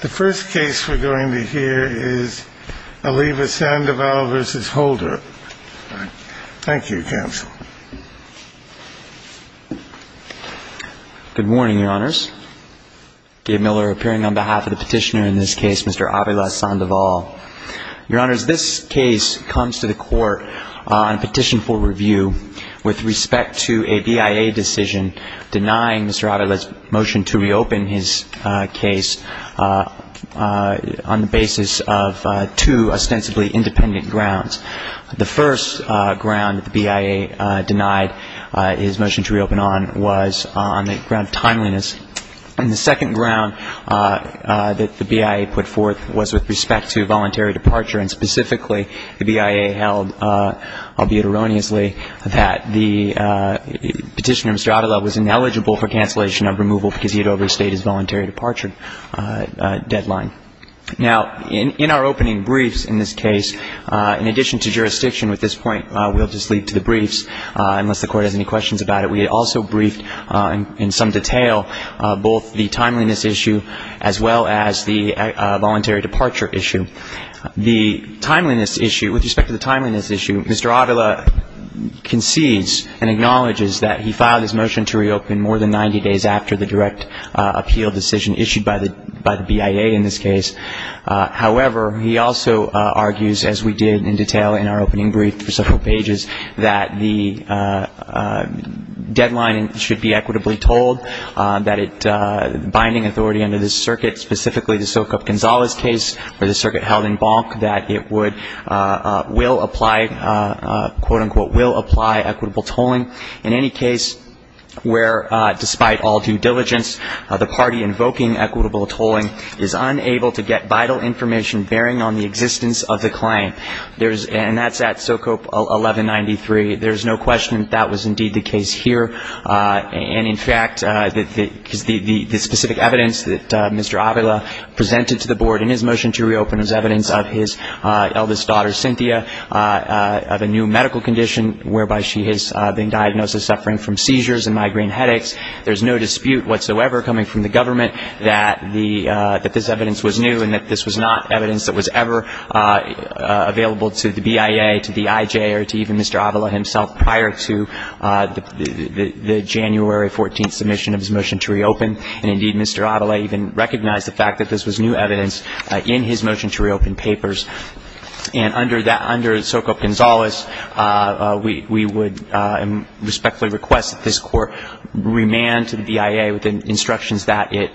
The first case we're going to hear is Avila Sandoval v. Holder. Thank you, Counsel. Good morning, Your Honors. Dave Miller appearing on behalf of the petitioner in this case, Mr. Avila Sandoval. Your Honors, this case comes to the Court on petition for review with respect to a BIA decision denying Mr. Avila's motion to reopen his case. On the basis of two ostensibly independent grounds. The first ground the BIA denied his motion to reopen on was on the ground of timeliness. And the second ground that the BIA put forth was with respect to voluntary departure, and specifically the BIA held, albeit erroneously, that the petitioner, Mr. Avila, was ineligible for cancellation of removal because he had overstayed his voluntary departure deadline. Now, in our opening briefs in this case, in addition to jurisdiction at this point, we'll just leave to the briefs, unless the Court has any questions about it. We also briefed in some detail both the timeliness issue as well as the voluntary departure issue. The timeliness issue, with respect to the timeliness issue, Mr. Avila concedes and acknowledges that he filed his motion to reopen more than 90 days after the direct appeal decision issued by the BIA in this case. However, he also argues, as we did in detail in our opening brief for several pages, that the deadline should be equitably told, that binding authority under this circuit, specifically the Sokoop-Gonzalez case, or the circuit held in Bonk, that it would, will apply, quote, unquote, will apply equitable tolling in any case where, despite all due diligence, the party invoking equitable tolling is unable to get vital information bearing on the existence of the claim. And that's at Sokoop 1193. There's no question that that was indeed the case here. And, in fact, the specific evidence that Mr. Avila presented to the Board in his motion to reopen is evidence of his eldest daughter, Cynthia, of a new medical condition whereby she has been diagnosed as suffering from seizures and migraine headaches. There's no dispute whatsoever coming from the government that this evidence was new and that this was not evidence that was ever available to the BIA, to the IJ, or to even Mr. Avila himself prior to the January 14th submission of his motion to reopen. And, indeed, Mr. Avila even recognized the fact that this was new evidence in his motion to reopen papers. And under Sokoop-Gonzalez, we would respectfully request that this Court remand to the BIA with the instructions that it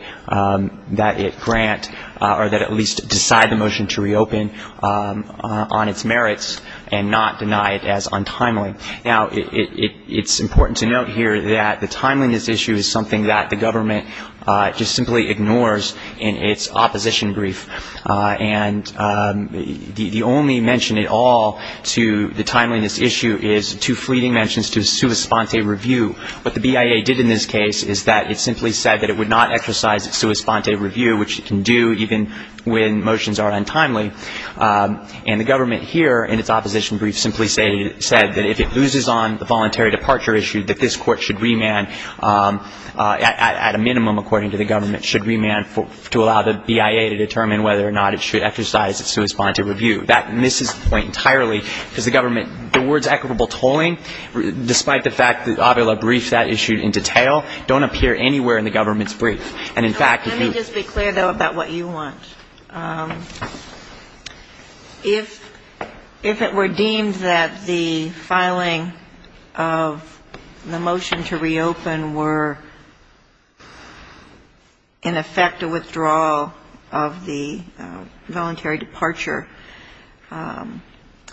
grant or that at least decide the motion to reopen on its merits and not deny it as untimely. Now, it's important to note here that the timeliness issue is something that the government just simply ignores in its opposition brief. And the only mention at all to the timeliness issue is two fleeting mentions to a sua sponte review. What the BIA did in this case is that it simply said that it would not exercise its sua sponte review, which it can do even when motions are untimely. And the government here in its opposition brief simply said that if it loses on the voluntary departure issue, that this Court should remand at a minimum, according to the government, should remand to allow the BIA to determine whether or not it should exercise its sua sponte review. That misses the point entirely, because the government, the words equitable tolling, despite the fact that Avila briefed that issue in detail, don't appear anywhere in the government's brief. And in fact, if you're going to be clear, though, about what you want, if it were deemed that the filing of the motion to reopen were in effect a withdrawal of the voluntary departure,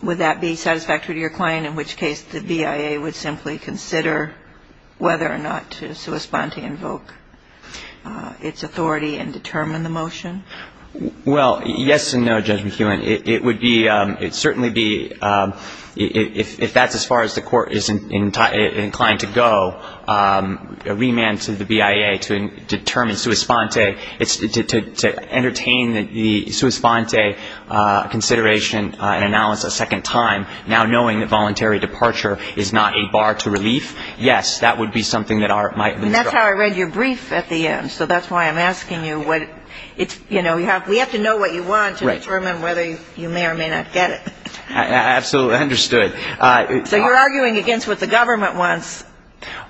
would that be satisfactory to your client, in which case the BIA would simply consider whether or not to sua sponte invoke its authority and determine the motion? Well, yes and no, Judge McKeown. It would be certainly be, if that's as far as the Court is inclined to go, remand to the BIA to determine sua sponte, to entertain the sua sponte consideration and analysis a second time, now knowing that voluntary departure is not a bar to relief, yes, that would be something that might be struck. And that's how I read your brief at the end, so that's why I'm asking you what it's, you know, we have to know what you want to determine whether you may or may not get it. Absolutely understood. So you're arguing against what the government wants.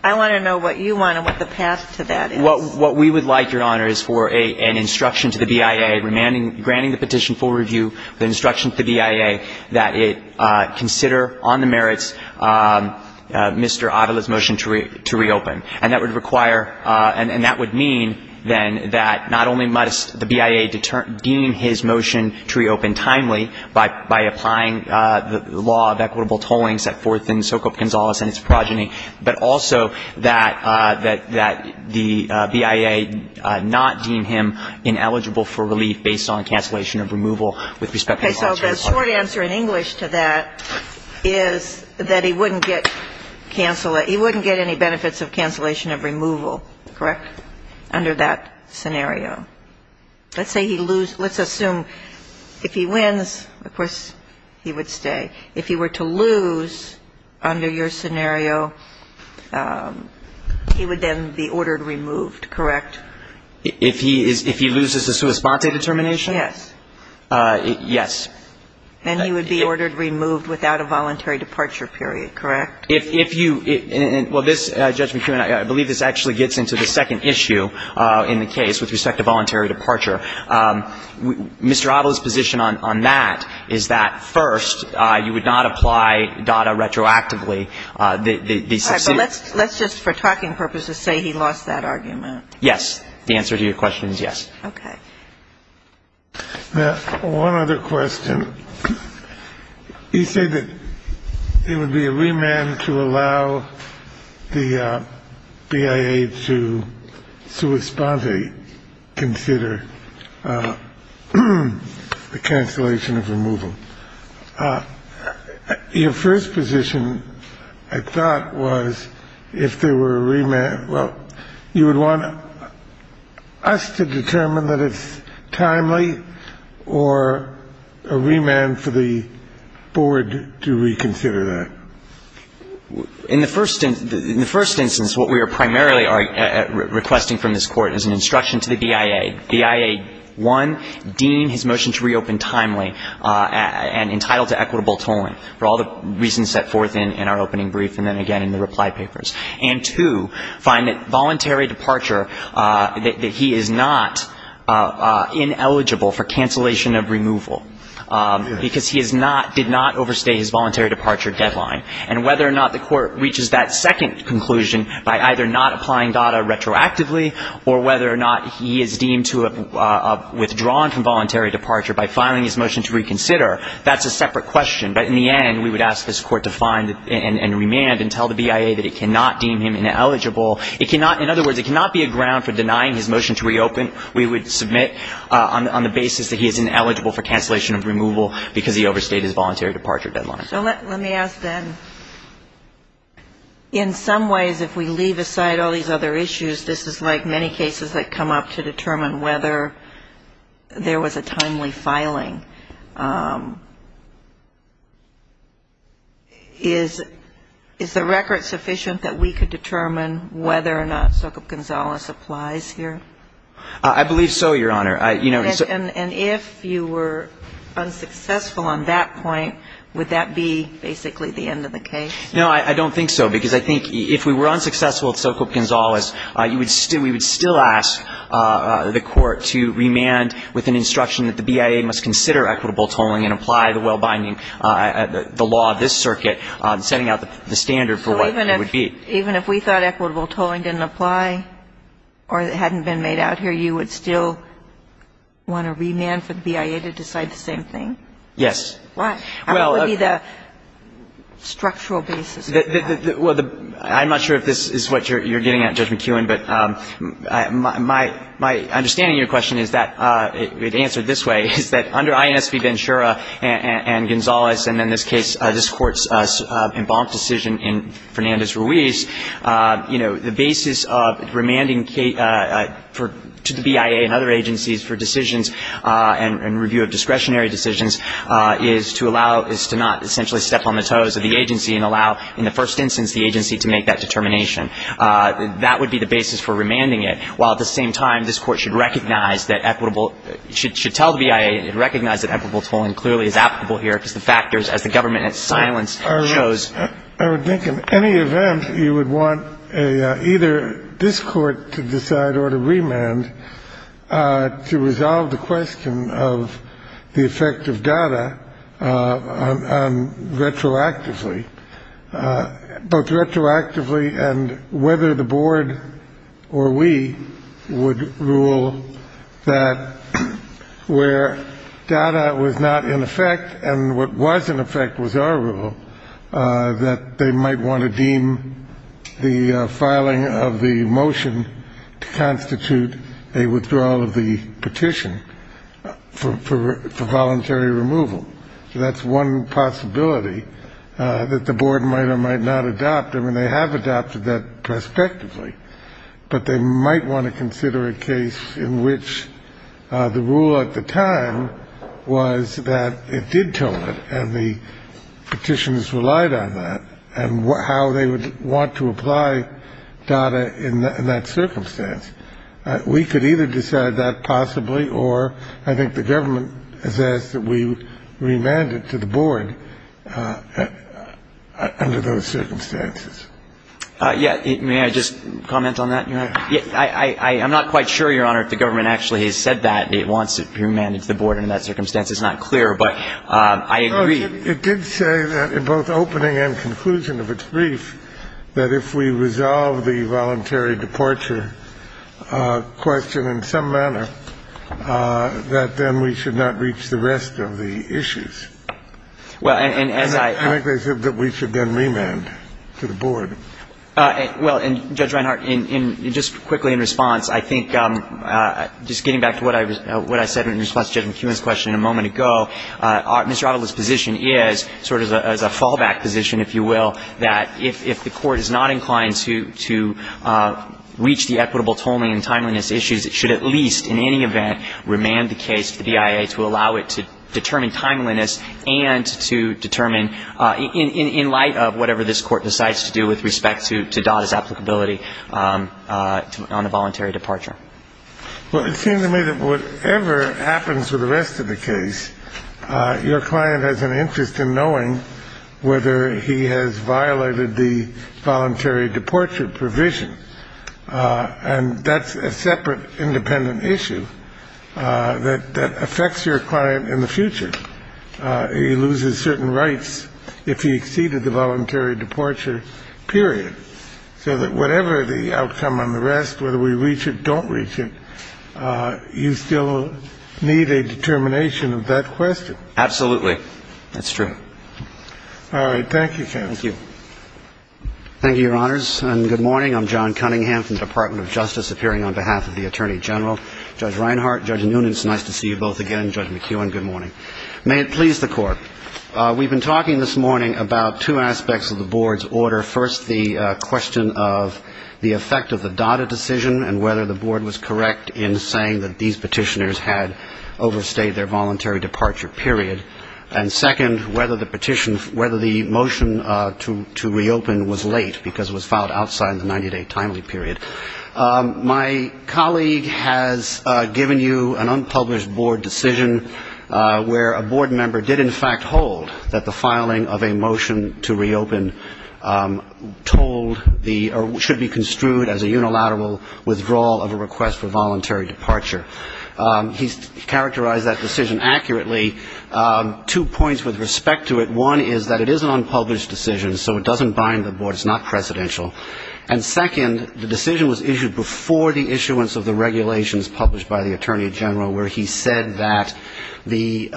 I want to know what you want and what the path to that is. What we would like, Your Honor, is for an instruction to the BIA, granting the petition full review, the instruction to the BIA that it consider on the merits Mr. Avila's motion to reopen. And that would require, and that would mean, then, that not only must the BIA deem his motion to reopen timely by applying the law of equitable tolling set forth in Socop Gonzales and its progeny, but also that the BIA not deem him ineligible for relief based on cancellation of removal with respect to the law. So the short answer in English to that is that he wouldn't get any benefits of cancellation of removal, correct, under that scenario. Let's assume if he wins, of course, he would stay. If he were to lose under your scenario, he would then be ordered removed, correct? If he loses his sua sponte determination? Yes. And he would be ordered removed without a voluntary departure period, correct? If you ‑‑ well, this, Judge McKeown, I believe this actually gets into the second issue in the case with respect to voluntary departure. Mr. Avila's position on that is that, first, you would not apply DADA retroactively. Let's just, for talking purposes, say he lost that argument. Yes. The answer to your question is yes. Okay. Now, one other question. You say that it would be a remand to allow the BIA to sua sponte consider the cancellation of removal. Your first position, I thought, was if there were a remand ‑‑ well, you would want us to determine that it's timely or a remand for the board to reconsider that. In the first instance, what we are primarily requesting from this Court is an instruction to the BIA. The BIA, one, deem his motion to reopen timely and entitled to equitable tolling for all the reasons set forth in our opening brief and then again in the reply papers. And, two, find that voluntary departure, that he is not ineligible for cancellation of removal because he is not ‑‑ did not overstay his voluntary departure deadline. And whether or not the Court reaches that second conclusion by either not applying DADA retroactively or whether or not he is deemed to have withdrawn from voluntary departure by filing his motion to reconsider, that's a separate question. But in the end, we would ask this Court to find and remand and tell the BIA that it cannot deem him ineligible. It cannot ‑‑ in other words, it cannot be a ground for denying his motion to reopen. We would submit on the basis that he is ineligible for cancellation of removal because he overstayed his voluntary departure deadline. So let me ask then, in some ways, if we leave aside all these other issues, this is like many cases that come up to determine whether there was a timely filing. Is the record sufficient that we could determine whether or not Sokop Gonzalez applies here? I believe so, Your Honor. And if you were unsuccessful on that point, would that be basically the end of the case? No, I don't think so. Because I think if we were unsuccessful at Sokop Gonzalez, we would still ask the Court to remand with an instruction that the BIA must consider equitable tolling and apply the well‑binding, the law of this circuit, setting out the standard for what it would be. Even if we thought equitable tolling didn't apply or it hadn't been made out here, you would still want to remand for the BIA to decide the same thing? Yes. Why? What would be the structural basis for that? Well, I'm not sure if this is what you're getting at, Judge McKeown, but my understanding of your question is that, it answered this way, is that under INS v. Ventura and Gonzalez, and in this case, this Court's embanked decision in Fernandez Ruiz, you know, the basis of remanding to the BIA and other agencies for decisions and review of discretionary decisions is to allow, is to not essentially step on the toes of the agency and allow, in the first instance, the agency to make that determination. That would be the basis for remanding it, while at the same time, this Court should recognize that equitable, should tell the BIA and recognize that equitable tolling clearly is applicable here because the factors, as the government in its silence shows. I would think in any event, you would want either this Court to decide or to remand to resolve the question of the effect of data retroactively, both retroactively and whether the Board or we would rule that where data was not in effect and what was in effect was our rule, that they might want to deem the filing of the motion to constitute a withdrawal of the petition for voluntary removal. So that's one possibility that the Board might or might not adopt. I mean, they have adopted that prospectively, but they might want to consider a case in which the rule at the time was that it did toll it and the petitioners relied on that and how they would want to apply data in that circumstance. We could either decide that possibly or I think the government has asked that we remand it to the Board under those circumstances. Yeah. May I just comment on that, Your Honor? Yes. I'm not quite sure, Your Honor, if the government actually has said that it wants it remanded to the Board under that circumstance. It's not clear, but I agree. It did say that in both opening and conclusion of its brief, that if we resolve the voluntary departure question in some manner, that then we should not reach the rest of the issues. Well, and as I ---- I think they said that we should then remand to the Board. Well, and, Judge Reinhart, just quickly in response, I think just getting back to what I said in response to Judge McEwen's question a moment ago, Mr. Adler's position is sort of as a fallback position, if you will, that if the Court is not inclined to reach the equitable tolling and timeliness issues, it should at least in any event remand the case to the BIA to allow it to determine timeliness and to determine in light of whatever this Court decides to do with respect to DOTA's applicability on a voluntary departure. Well, it seems to me that whatever happens with the rest of the case, your client has an interest in knowing whether he has violated the voluntary departure provision. And that's a separate independent issue that affects your client in the future. He loses certain rights if he exceeded the voluntary departure period. So that whatever the outcome on the rest, whether we reach it, don't reach it, you still need a determination of that question. Absolutely. That's true. All right. Thank you, counsel. Thank you. Thank you, Your Honors. And good morning. I'm John Cunningham from the Department of Justice appearing on behalf of the Attorney General. Judge Reinhart, Judge Noonan, it's nice to see you both again. Judge McEwen, good morning. May it please the Court. We've been talking this morning about two aspects of the Board's order. First, the question of the effect of the DADA decision and whether the Board was correct in saying that these petitioners had overstayed their voluntary departure period. And second, whether the motion to reopen was late, because it was filed outside the 90-day timely period. My colleague has given you an unpublished Board decision where a Board member did, in fact, withhold that the filing of a motion to reopen told the or should be construed as a unilateral withdrawal of a request for voluntary departure. He's characterized that decision accurately. Two points with respect to it. One is that it is an unpublished decision, so it doesn't bind the Board. It's not precedential. And second, the decision was issued before the issuance of the regulations published by the Attorney General, where he said that the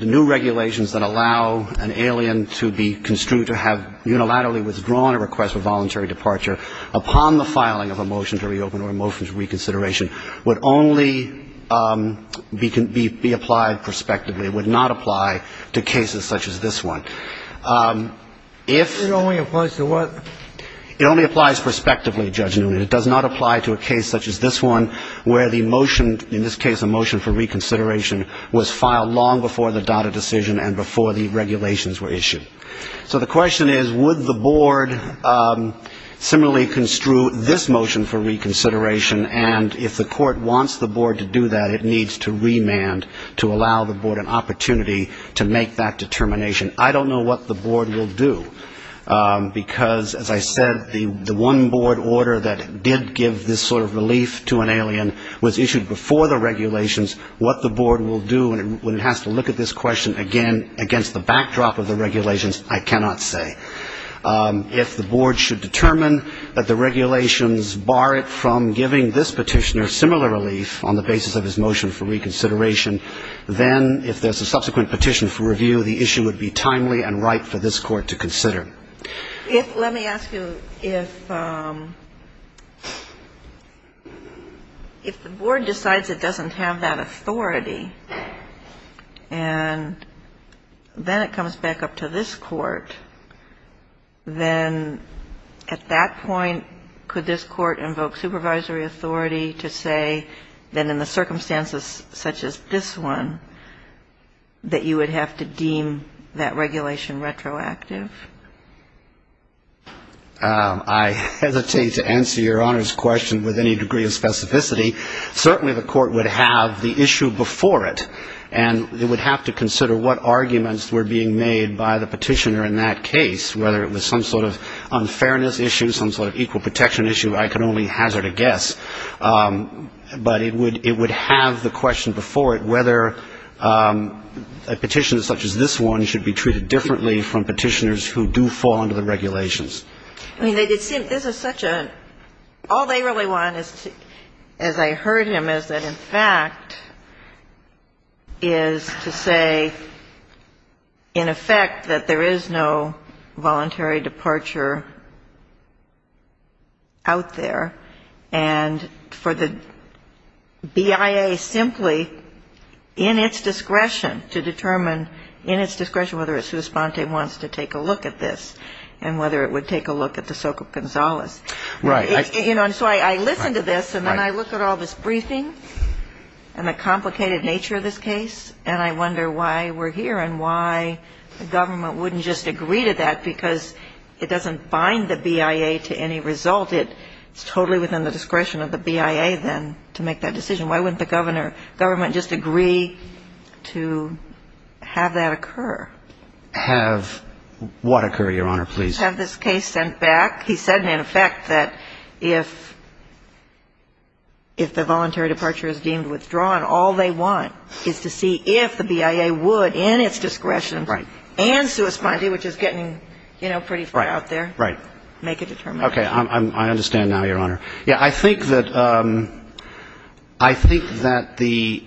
new regulations that allow an alien to be construed to have unilaterally withdrawn a request for voluntary departure upon the filing of a motion to reopen or a motion to reconsideration would only be applied prospectively, would not apply to cases such as this one. If the only applies to what? It only applies prospectively, Judge Newman. It does not apply to a case such as this one, where the motion, in this case a motion for reconsideration, was filed long before the data decision and before the regulations were issued. So the question is, would the Board similarly construe this motion for reconsideration, and if the court wants the Board to do that, it needs to remand to allow the Board an opportunity to make that determination. I don't know what the Board will do, because, as I said, the one Board order that did give this sort of relief to an alien was issued before the regulations. What the Board will do when it has to look at this question again against the backdrop of the regulations, I cannot say. If the Board should determine that the regulations bar it from giving this petitioner similar relief on the basis of his motion for reconsideration, then if there's a subsequent petition for review, the issue would be timely and right for this Court to consider. If, let me ask you, if the Board decides it doesn't have that authority and then it comes back up to this Court, then at that point, could this Court invoke supervisory authority to say that in the circumstances such as this one, that you would have to deem that regulation retroactive? I hesitate to answer Your Honor's question with any degree of specificity. Certainly the Court would have the issue before it, and it would have to consider what arguments were being made by the petitioner in that case, whether it was some sort of unfairness issue, some sort of equal protection issue. I can only hazard a guess. But it would have the question before it whether a petitioner such as this one should be treated differently from petitioners who do fall under the regulations. All they really want, as I heard him, is that, in fact, is to say, in effect, that there is no voluntary departure out there, and for the BIA simply in its discretion to determine, in its discretion, wants to take a look at this and whether it would take a look at De Soca Gonzalez. Right. You know, and so I listen to this, and then I look at all this briefing and the complicated nature of this case, and I wonder why we're here and why the government wouldn't just agree to that because it doesn't bind the BIA to any result. It's totally within the discretion of the BIA then to make that decision. Why wouldn't the government just agree to have that occur? Have what occur, Your Honor, please? Have this case sent back. He said, in effect, that if the voluntary departure is deemed withdrawn, all they want is to see if the BIA would, in its discretion and sui spondi, which is getting, you know, pretty far out there, make a determination. Okay. I understand now, Your Honor. Yeah, I think that the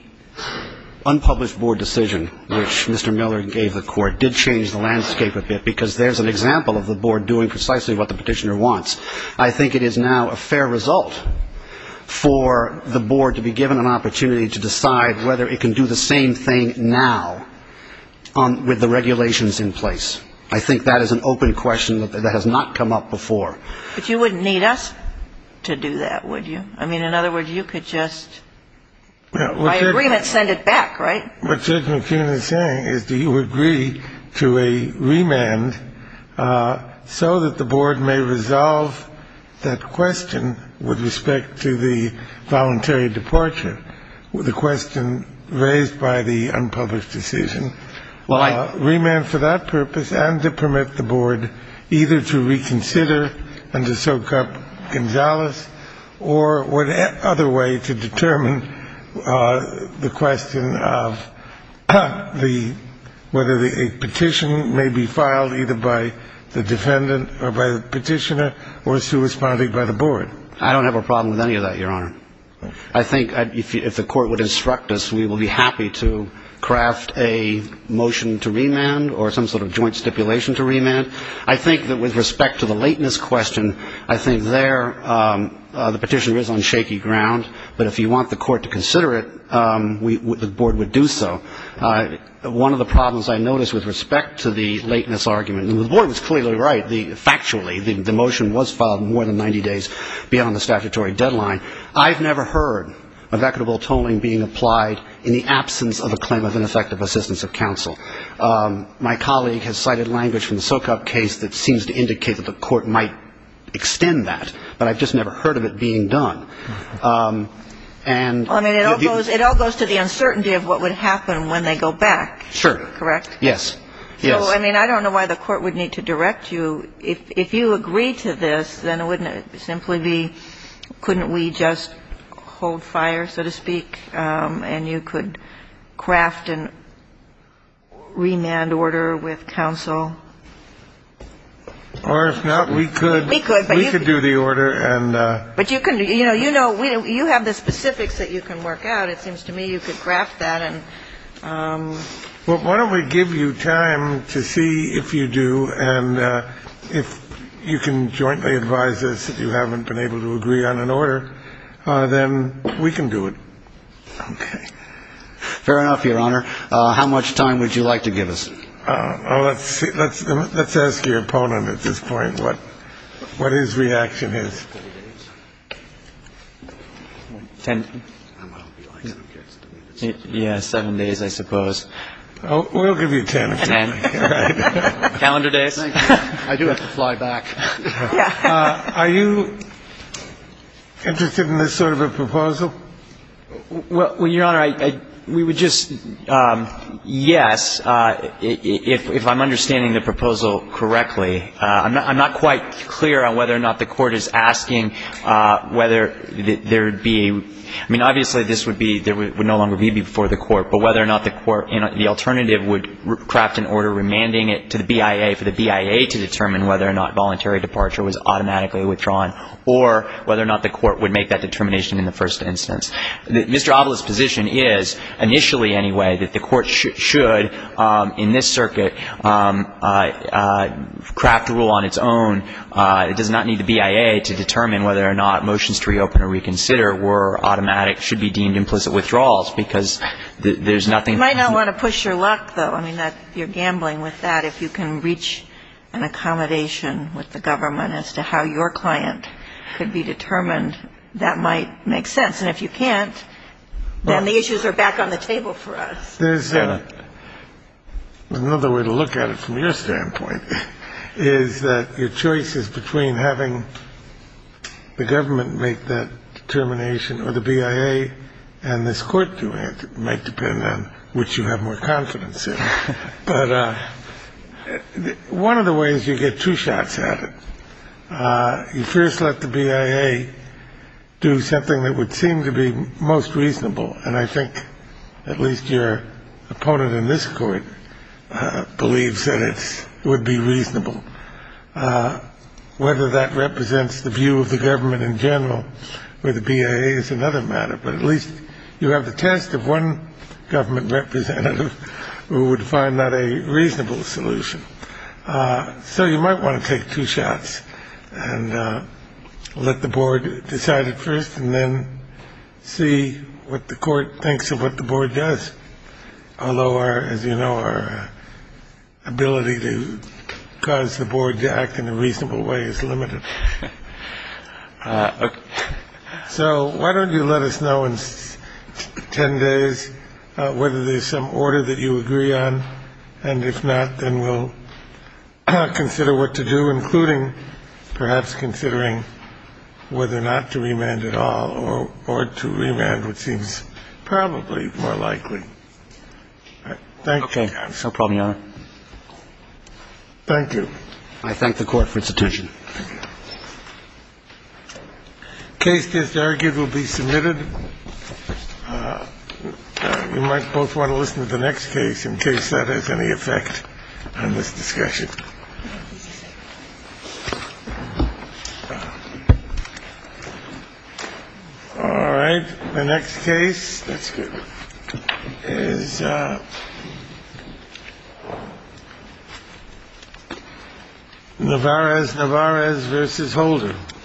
unpublished board decision, which Mr. Miller gave the court, did change the landscape a bit because there's an example of the board doing precisely what the petitioner wants. I think it is now a fair result for the board to be given an opportunity to decide whether it can do the same thing now with the regulations in place. I think that is an open question that has not come up before. But you wouldn't need us to do that, would you? I mean, in other words, you could just, by agreement, send it back, right? What Judge McKeon is saying is do you agree to a remand so that the board may resolve that question with respect to the voluntary departure, the question raised by the unpublished decision? Well, I do. I think that the board would have to decide whether for that purpose and to permit the board either to reconsider and to soak up Gonzales or what other way to determine the question of whether a petition may be filed either by the defendant or by the petitioner or is to be responded by the board. I don't have a problem with any of that, Your Honor. I think if the court would instruct us, we would be happy to craft a motion to remand or some sort of joint stipulation to remand. I think that with respect to the lateness question, I think there the petitioner is on shaky ground, but if you want the court to consider it, the board would do so. One of the problems I noticed with respect to the lateness argument, and the board was clearly right, factually, the motion was filed more than 90 days beyond the statutory deadline. I've never heard of equitable tolling being applied in the absence of a claim of ineffective assistance of counsel. My colleague has cited language from the Sokop case that seems to indicate that the court might extend that, but I've just never heard of it being done. And the other thing is the uncertainty of what would happen when they go back. Sure. Correct? Yes. Yes. I mean, I don't know why the court would need to direct you. If you agree to this, then wouldn't it simply be couldn't we just hold fire, so to speak, and you could craft a remand order with counsel? Or if not, we could. We could. We could do the order. But you know, you have the specifics that you can work out. It seems to me you could craft that. Well, why don't we give you time to see if you do. And if you can jointly advise us that you haven't been able to agree on an order, then we can do it. Okay. Fair enough, Your Honor. How much time would you like to give us? Let's see. Let's let's ask your opponent at this point what what his reaction is. Ten. Yeah, seven days, I suppose. We'll give you ten. Ten. Calendar days. I do have to fly back. Are you interested in this sort of a proposal? Well, Your Honor, we would just, yes, if I'm understanding the proposal correctly. I'm not quite clear on whether or not the court is asking whether there would be, I mean, obviously this would be there would no longer be before the court. But whether or not the court, the alternative would craft an order remanding it to the BIA, for the BIA to determine whether or not voluntary departure was automatically withdrawn, or whether or not the court would make that determination in the first instance. Mr. Avila's position is, initially anyway, that the court should, in this circuit, craft a rule on its own. It does not need the BIA to determine whether or not motions to reopen or reconsider were automatic, should be deemed implicit withdrawals, because there's nothing. You might not want to push your luck, though. I mean, you're gambling with that. If you can reach an accommodation with the government as to how your client could be determined, that might make sense. And if you can't, then the issues are back on the table for us. There's another way to look at it from your standpoint, is that your choice is between having the government make that determination or the BIA, and this court might depend on which you have more confidence in. But one of the ways you get two shots at it, you first let the BIA do something that would seem to be most reasonable, and I think at least your opponent in this court believes that it would be reasonable. Whether that represents the view of the government in general or the BIA is another matter, but at least you have the test of one government representative who would find that a reasonable solution. So you might want to take two shots and let the board decide it first and then see what the court thinks of what the board does. Although, as you know, our ability to cause the board to act in a reasonable way is limited. So why don't you let us know in 10 days whether there's some order that you agree on, and if not, then we'll consider what to do, including perhaps considering whether or not to remand at all or to remand, which seems probably more likely. Thank you, Your Honor. Okay. No problem, Your Honor. Thank you. I thank the Court for its attention. Thank you. Case disargued will be submitted. You might both want to listen to the next case in case that has any effect on this discussion. All right. The next case is Navarez-Navarez v. Holder.